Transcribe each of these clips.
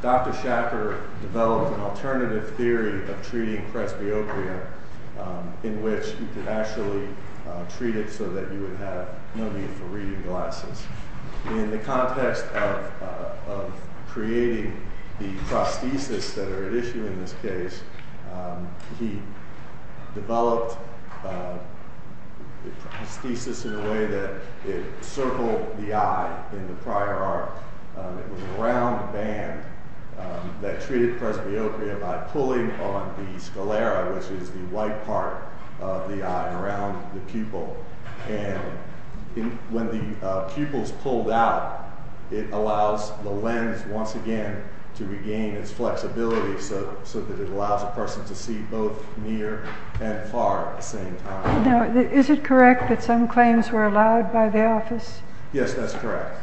Dr. Schachar developed an alternative theory of treating presbyopia in which you could actually treat it so that you would have no need for reading glasses. In the context of creating the prosthesis that are at issue in this case, he developed the prosthesis in a way that it circled the eye in the prior arc. It was a round band that treated presbyopia by pulling on the sclera, which is the white part of the eye, around the pupil. And when the pupils pulled out, it allows the lens once again to regain its flexibility so that it allows a were allowed by the office? Yes, that's correct.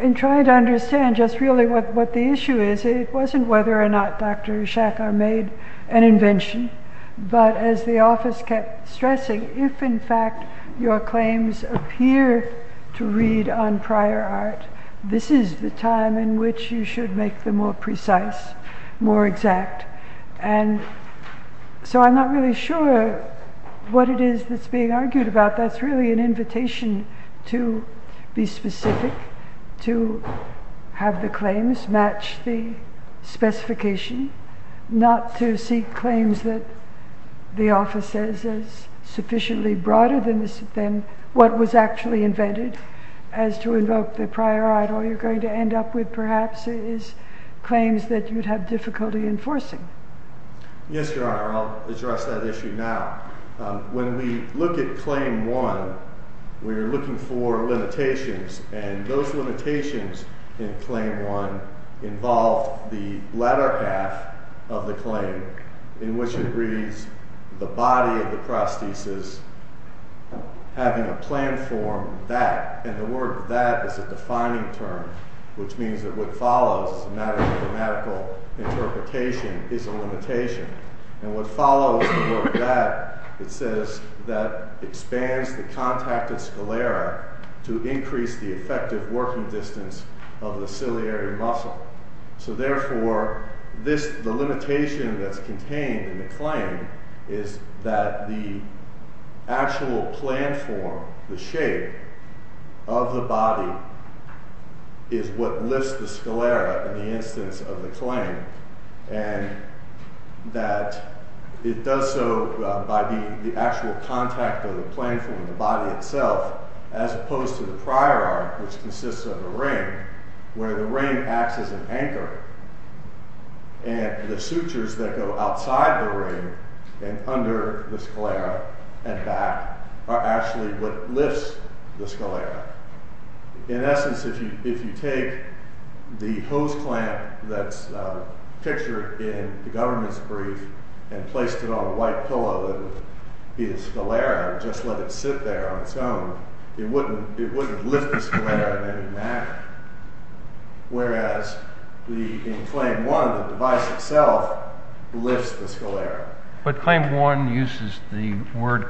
In trying to understand just really what the issue is, it wasn't whether or not Dr. Schachar made an invention, but as the office kept stressing, if in fact your claims appear to read on prior art, this is the time in which you should make them more precise, more exact. And so I'm not really sure what it is that's being argued about. That's really an invitation to be specific, to have the claims match the specification, not to seek claims that the office says is sufficiently broader than what was actually invented as to invoke the prior art. All you're going to end up with perhaps is claims that you'd have difficulty enforcing. Yes, your honor, I'll address that issue now. When we look at claim one, we're looking for limitations, and those limitations in claim one involve the latter half of the claim, in which it reads, the body of the prosthesis having a planned form that, and the word that is a defining term, which means that what follows a matter of mathematical interpretation is a limitation. And what follows the word that, it says that expands the contacted sclera to increase the effective working distance of the ciliary muscle. So therefore, the limitation that's contained in the claim is that the actual planned form, the shape of the body, is what lifts the sclera in the instance of the claim, and that it does so by the actual contact of the planned form, the body itself, as opposed to the prior art, which consists of a ring, where the ring acts as an anchor, and the sutures that go outside the ring and under the sclera and back are actually what lifts the sclera. In essence, if you take the hose clamp that's pictured in the government's brief and placed it on a white pillow, it would be a sclera and just let it sit there on its own. It wouldn't lift the sclera in any manner, whereas in claim one, the device itself lifts the sclera. But claim one uses the word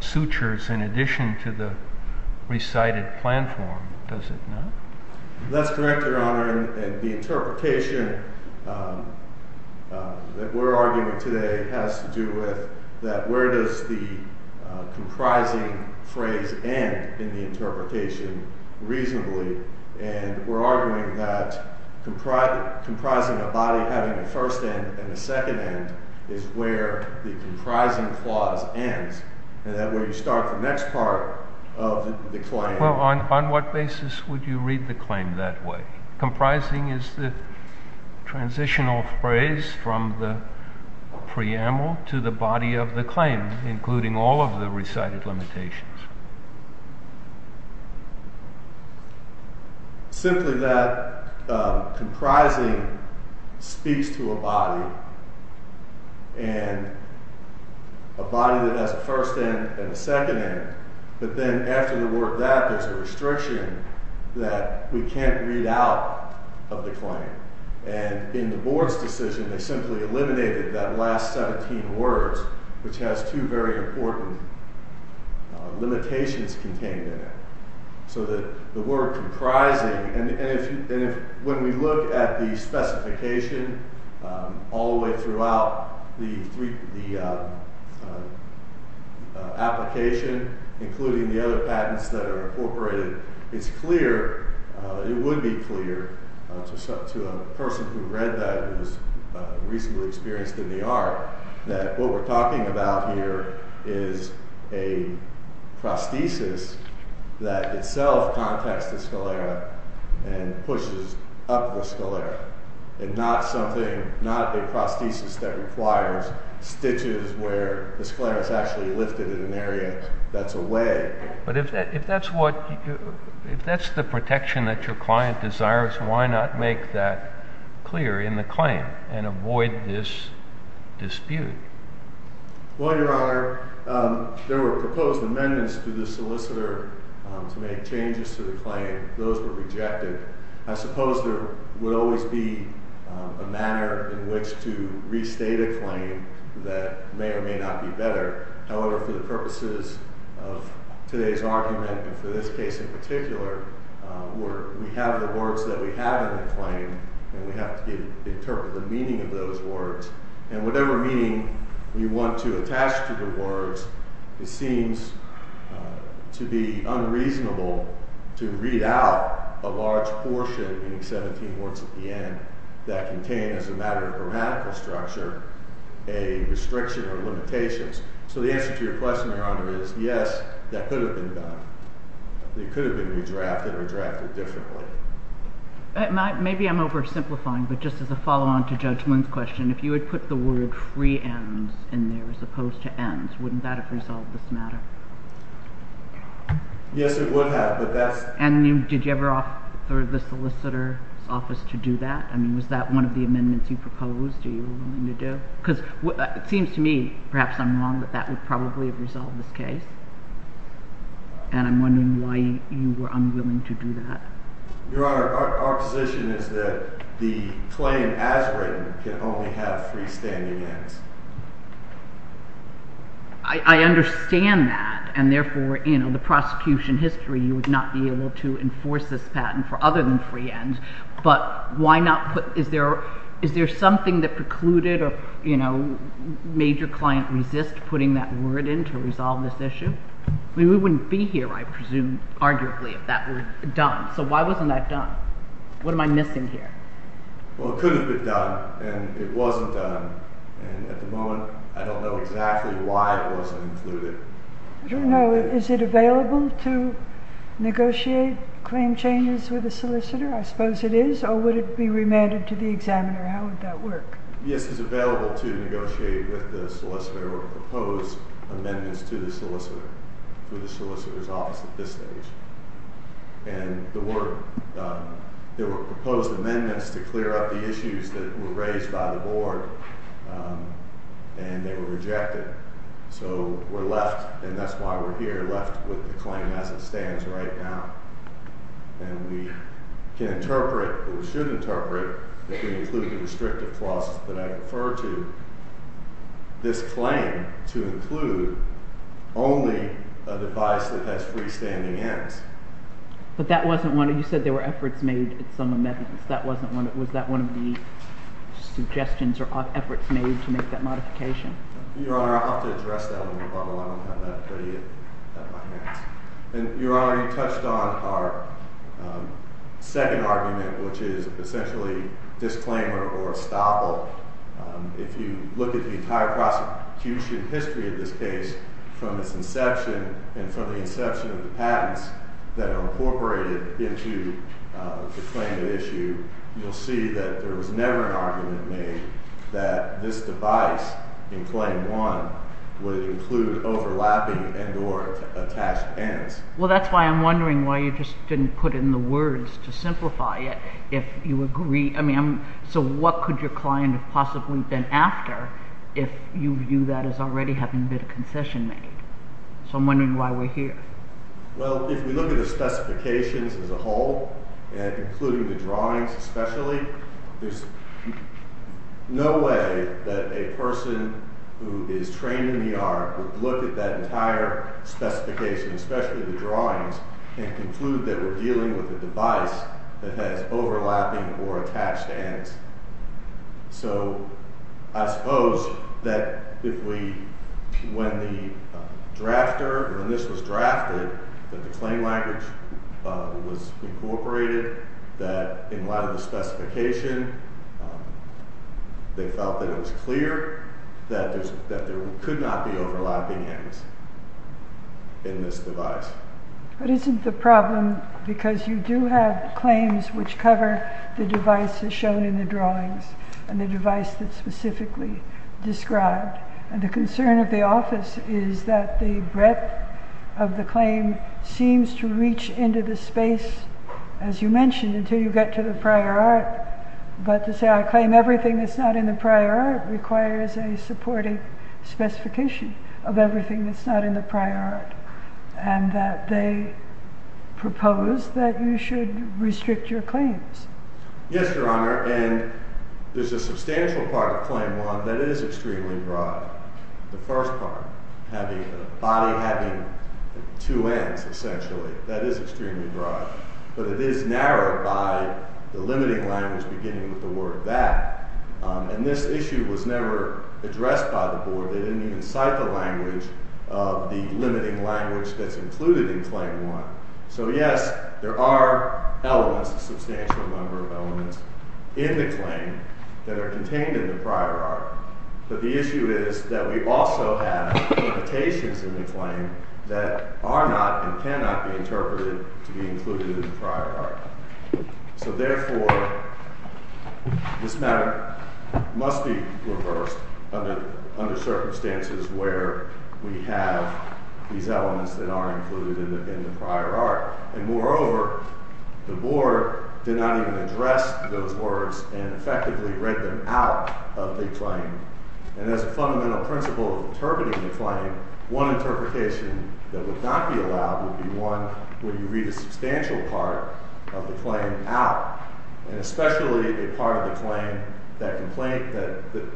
sutures in addition to the recited planned form, does it not? That's correct, your honor, and the interpretation that we're arguing today has to do with that where does the comprising phrase end in the interpretation reasonably, and we're arguing that comprising a body having a first end and a second end is where the comprising clause ends, and that where you start the next part of the claim. Well, on what basis would you read the claim that way? Comprising is the transitional phrase from the preamble to the body of the claim, including all of the recited limitations. Simply that comprising speaks to a body, and a body that has a first end and a second end, but then after the word that there's a restriction that we can't read out of the claim, and in the board's decision they simply eliminated that last 17 words, which has two very important limitations contained in it. So that the word comprising, and if when we look at the specification all the way throughout the application, including the other patents that are incorporated, it's clear, it would be clear to a person who read that and was recently experienced in the art, that what we're talking about here is a prosthesis that itself contacts the sclera and pushes up the sclera, and not something, not a prosthesis that requires stitches where the sclera is actually lifted in an area that's away. But if that's what, if that's the protection that your client desires, why not make that clear in the claim and avoid this dispute? Well, your honor, there were proposed amendments to the solicitor to make changes to the claim. Those were rejected. I suppose there would always be a manner in which to restate a claim that may or may not be better. However, for the purposes of today's argument, and for this case in particular, where we have the words that we have in the claim, and we have to interpret the meaning of those words, and whatever meaning you want to attach to the words, it seems to be unreasonable to read out a large portion, meaning 17 words at the end, that contain as a matter of restriction or limitations. So the answer to your question, your honor, is yes, that could have been done. They could have been redrafted or drafted differently. Maybe I'm oversimplifying, but just as a follow-on to Judge Moon's question, if you had put the word free ends in there as opposed to ends, wouldn't that have resolved this matter? Yes, it would have, but that's... And did you ever offer the solicitor's office to do that? I mean, was that one of the amendments you proposed? Are it seems to me, perhaps I'm wrong, that that would probably have resolved this case, and I'm wondering why you were unwilling to do that. Your honor, our position is that the claim as written can only have freestanding ends. I understand that, and therefore, you know, the prosecution history, you would not be able to enforce this patent for other than free ends, but why not put... Is there something that precluded or, you know, made your client resist putting that word in to resolve this issue? I mean, we wouldn't be here, I presume, arguably, if that were done. So why wasn't that done? What am I missing here? Well, it could have been done, and it wasn't done, and at the moment, I don't know exactly why it wasn't included. I don't know. Is it available to negotiate claim changes with the solicitor? I suppose it is, or would it be remanded to the examiner? How would that work? Yes, it's available to negotiate with the solicitor or propose amendments to the solicitor through the solicitor's office at this stage, and there were proposed amendments to clear up the issues that were raised by the board, and they were rejected, so we're left, and that's why we're here, left with the claim as it stands right now, and we can interpret, or we should interpret, if we include the restrictive clause that I refer to, this claim to include only a device that has freestanding ends. But that wasn't one... You said there were efforts made at some amendments. That wasn't one... Was that one of the suggestions or efforts made to make that modification? Your Honor, I'll have to address that when we're done. I don't have that ready at my hands. And Your Honor, you touched on our second argument, which is essentially disclaimer or estoppel. If you look at the entire prosecution history of this case from its inception and from the inception of the that there was never an argument made that this device in claim one would include overlapping and or attached ends. Well, that's why I'm wondering why you just didn't put in the words to simplify it. If you agree, I mean, so what could your client have possibly been after if you view that as already having been concession made? So I'm wondering why we're here. Well, if we look at the specifications as a whole and including the drawings, especially, there's no way that a person who is trained in the art would look at that entire specification, especially the drawings, and conclude that we're dealing with a device that has overlapping or the claim language was incorporated that in light of the specification, they felt that it was clear that there could not be overlapping ends in this device. But isn't the problem because you do have claims which cover the devices shown in the drawings and the device that's specifically described? And the concern of the office is that the breadth of the claim seems to reach into the space, as you mentioned, until you get to the prior art. But to say I claim everything that's not in the prior art requires a supporting specification of everything that's not in the prior art, and that they propose that you should restrict your claims. Yes, Your Honor, and there's a substantial part of claim one that is extremely broad. The first part, having a body having two ends, essentially, that is extremely broad, but it is narrowed by the limiting language beginning with the word that. And this issue was never addressed by the board. They didn't even cite the language of the limiting language that's included in claim one. So yes, there are elements, a substantial number of elements in the claim that are contained in the prior art, but the issue is that we also have imitations in the claim that are not and cannot be interpreted to be included in the prior art. So therefore, this matter must be reversed under circumstances where we have these elements that are included in the prior art. And moreover, the board did not address those words and effectively read them out of the claim. And as a fundamental principle of interpreting the claim, one interpretation that would not be allowed would be one where you read a substantial part of the claim out, and especially a part of the claim that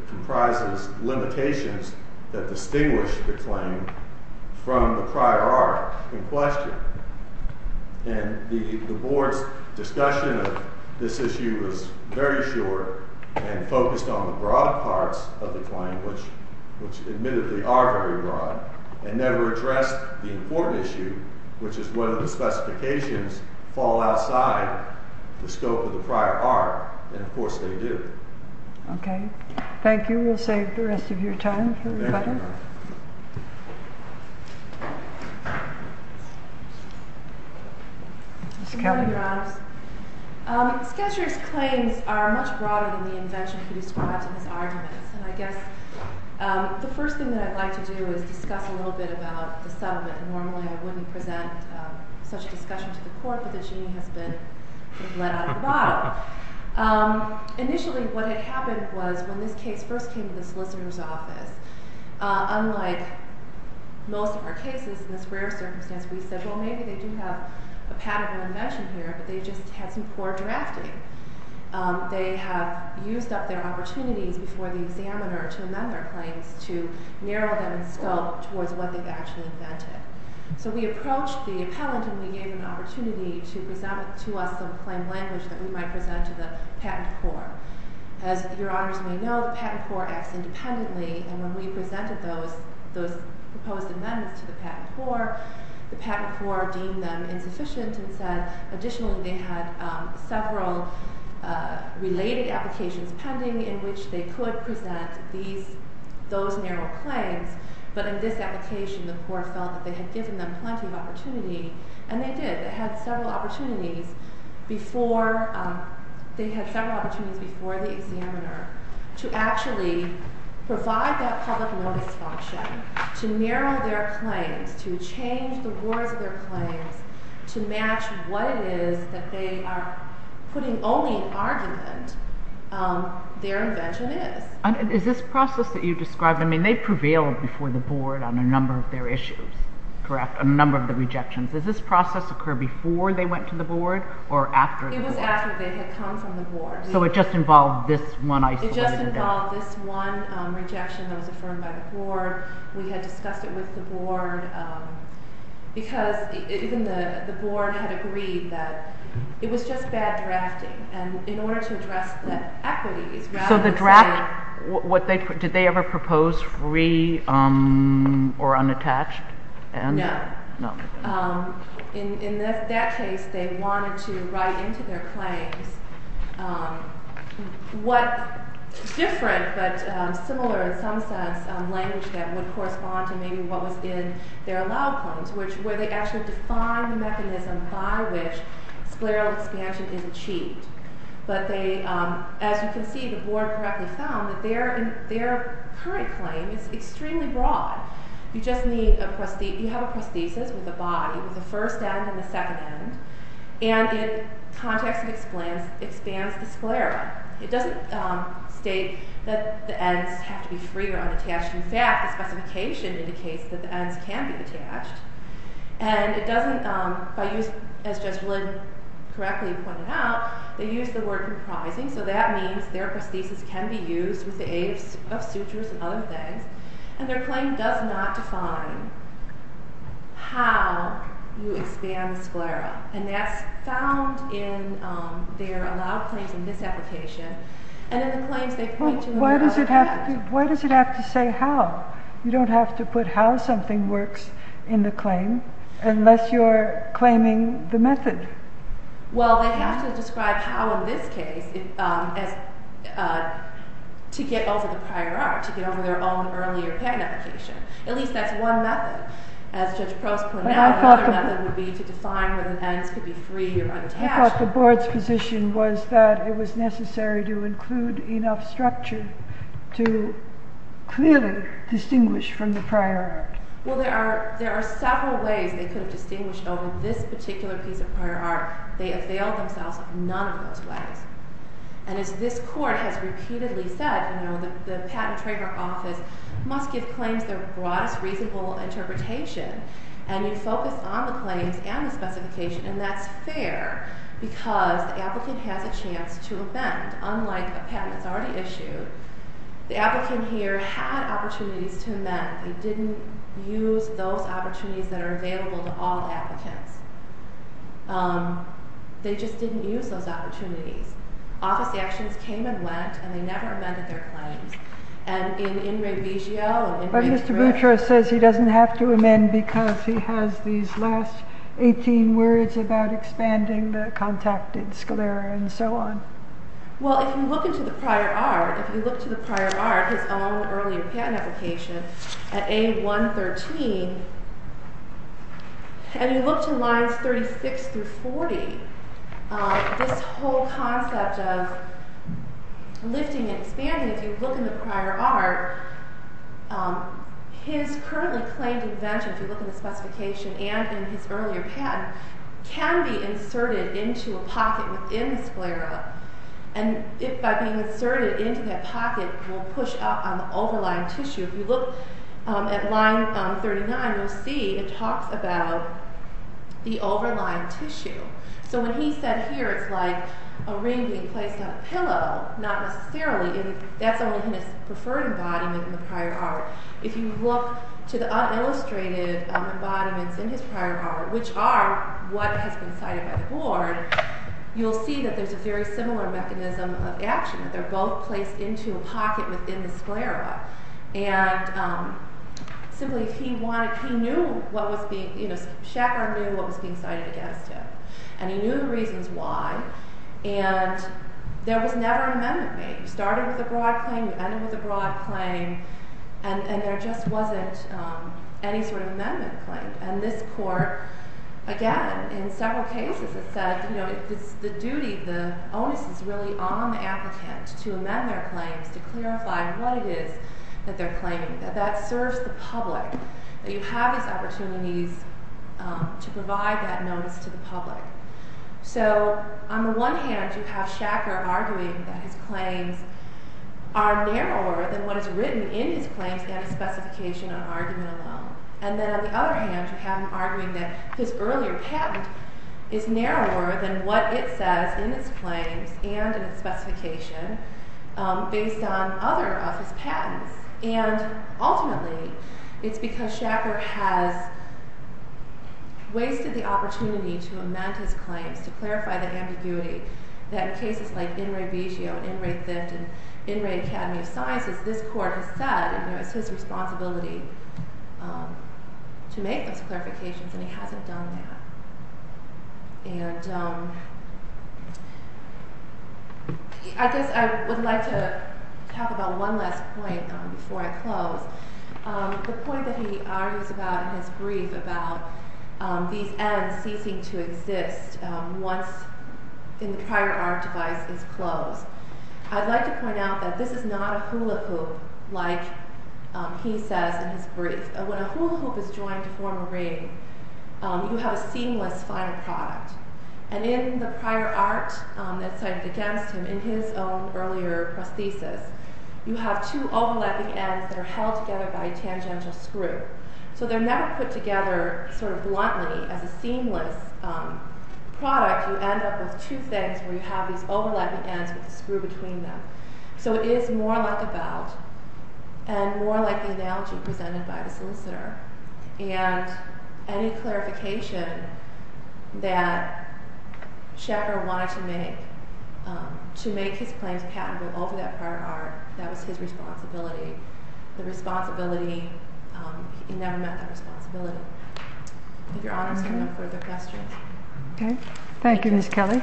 comprises limitations that distinguish the claim from the prior art in question. And the board's discussion of this issue was very short and focused on the broad parts of the claim, which admittedly are very broad, and never addressed the important issue, which is whether the specifications fall outside the scope of the prior art, and of course they do. Okay, thank you. We'll save the rest of your time for the rebuttal. Good morning, Your Honors. Sketchers' claims are much broader than the invention he described in his arguments, and I guess the first thing that I'd like to do is discuss a little bit about the settlement. Normally I wouldn't present such a discussion to the court, but the genie has been let out of the bottle. Initially what had happened was when this case first came to the solicitor's office, unlike most of our cases in this rare circumstance, we said, well maybe they do have a patable invention here, but they just had some poor drafting. They have used up their opportunities before the examiner to amend their claims to narrow them in scope towards what they've actually invented. So we approached the appellant and we gave an opportunity to present to us some language that we might present to the patent court. As Your Honors may know, the patent court acts independently, and when we presented those proposed amendments to the patent court, the patent court deemed them insufficient and said additionally they had several related applications pending in which they could present these, those narrow claims, but in this application the court felt that they had given them plenty of opportunity, and they did. They had several opportunities before, they had several opportunities before the examiner to actually provide that public notice function, to narrow their claims, to change the words of their claims, to match what it is that they are putting only in argument their invention is. Is this process that you described, I mean they prevailed before the board on a number of their issues, correct? A number of the rejections. Does process occur before they went to the board or after? It was after they had come from the board. So it just involved this one isolated... It just involved this one rejection that was affirmed by the board. We had discussed it with the board because even the board had agreed that it was just bad drafting, and in order to address the equities... So the draft, what they, did they ever propose free or unattached? No. In that case they wanted to write into their claims what different but similar in some sense language that would correspond to maybe what was in their allowed claims, which where they actually define the mechanism by which the claim is extremely broad. You just need a... You have a prosthesis with a body with a first end and a second end, and in context it expands the sclera. It doesn't state that the ends have to be free or unattached. In fact, the specification indicates that the ends can be attached, and it doesn't, by use, as Jess Lynn correctly pointed out, they use the word comprising, so that means their prosthesis can be used with the aid of sutures and other things, and their claim does not define how you expand the sclera, and that's found in their allowed claims in this application, and in the claims they point to... Why does it have to say how? You don't have to put how something works in the claim unless you're claiming the method. Well, they have to describe how, in this case, to get over the prior art, to get over their own earlier patent application. At least that's one method. As Judge Prost pointed out, another method would be to define whether the ends could be free or unattached. I thought the board's position was that it was necessary to include enough structure to clearly distinguish from the prior art. Well, there are several ways they could have distinguished over this particular piece of prior art. They availed themselves of none of those ways, and as this Court has repeatedly said, the Patent Trader Office must give claims their broadest reasonable interpretation, and you focus on the claims and the specification, and that's fair because the applicant has a chance to amend. Unlike a patent that's already issued, the applicant here had opportunities to amend. They didn't use those opportunities. Office actions came and went, and they never amended their claims. Mr. Boutros says he doesn't have to amend because he has these last 18 words about expanding the contacted sclera and so on. Well, if you look into the prior art, if you look to the prior art, his own earlier patent application at A113, and you look to lines 36 through 40, this whole concept of lifting and expanding, if you look in the prior art, his currently claimed invention, if you look in the specification and in his earlier patent, can be inserted into a pocket within the sclera, and by being inserted into that pocket, will push up on the overlying tissue. If you look at line 39, you'll see it talks about the overlying tissue. So when he said here it's like a ring being placed on a pillow, not necessarily. That's only his preferred embodiment in the prior art. If you look to the unillustrated embodiments in his prior art, which are what has been cited by the board, you'll see that there's a very similar mechanism of action. They're both placed into a pocket. And so he knew what was being cited against him, and he knew the reasons why, and there was never an amendment made. You started with a broad claim, you ended with a broad claim, and there just wasn't any sort of amendment claimed. And this court, again, in several cases, has said, you know, it's the duty, the onus is really on the applicant to amend their claims, to clarify what it is that they're claiming, that that serves the public, that you have these opportunities to provide that notice to the public. So on the one hand, you have Shacker arguing that his claims are narrower than what is written in his claims and his specification on argument alone. And then on the other hand, you have him arguing that his earlier patent is narrower than what it says in its claims and in its specification, based on other of his patents. And ultimately, it's because Shacker has wasted the opportunity to amend his claims, to clarify the ambiguity, that in cases like In Re Vigio and In Re Thift and In Re Academy of Sciences, this court has said, you know, it's his responsibility to make those clarifications, and he hasn't done that. And I guess I would like to talk about one last point before I close. The point that he argues about in his brief about these ends ceasing to exist once in the prior art device is closed, I'd like to point out that this is not a hula hoop like he says in his brief. When a hula hoop is joined to form a ring, you have a seamless final product. And in the prior art that's cited against him in his own earlier prosthesis, you have two overlapping ends that are held together by a tangential screw. So they're never put together sort of bluntly as a seamless product, you end up with two things where you have these overlapping ends with a screw between them. So it is more like a bout, and more like the analogy presented by the solicitor. And any clarification that Shacker wanted to make, to make his claims patentable over that prior art, that was his responsibility. The responsibility, he never met that responsibility. I think your honor is going to have further questions. Okay, thank you, Ms. Kelly.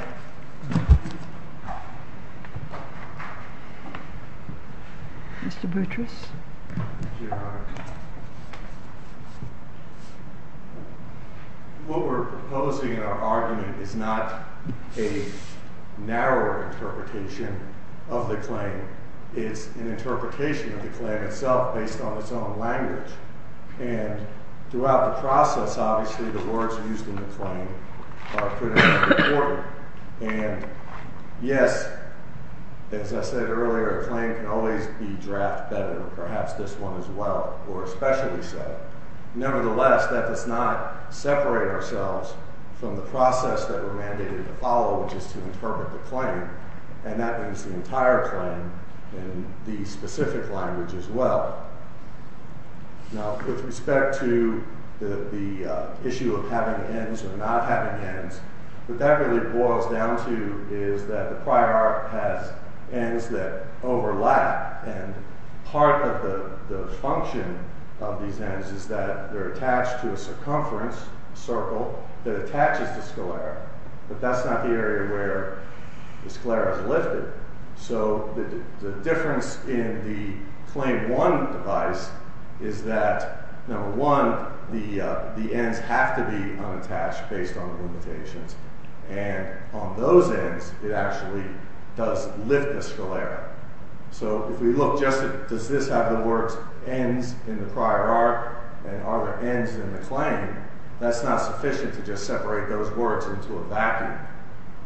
Mr. Boutrous. What we're proposing in our argument is not a narrower interpretation of the claim. It's an process. Obviously, the words used in the claim are critically important. And yes, as I said earlier, a claim can always be draft better, perhaps this one as well, or especially so. Nevertheless, that does not separate ourselves from the process that we're mandated to follow, which is to interpret the claim. And that means the entire claim in the specific language as well. Now, with respect to the issue of having ends or not having ends, what that really boils down to is that the prior art has ends that overlap. And part of the function of these ends is that they're attached to a circumference, a circle, that attaches to sclera. But that's not the area where the sclera is lifted. So, the difference in the claim one device is that, number one, the ends have to be unattached based on the limitations. And on those ends, it actually does lift the sclera. So, if we look just at does this have the words ends in the prior art, and are there ends in the claim, that's not sufficient to just separate those words into a vacuum.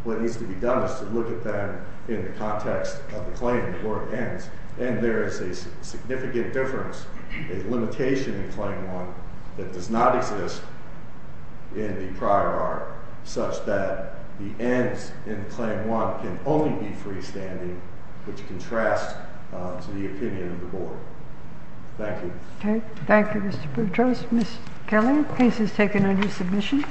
What needs to be done is to look at them in the context of the claim where it ends. And there is a significant difference, a limitation in claim one that does not exist in the prior art, such that the ends in claim one can only be freestanding, which contrasts to the opinion of the board. Thank you. Thank you, Mr. Boutros. Ms. Kelly, case is taken under submission.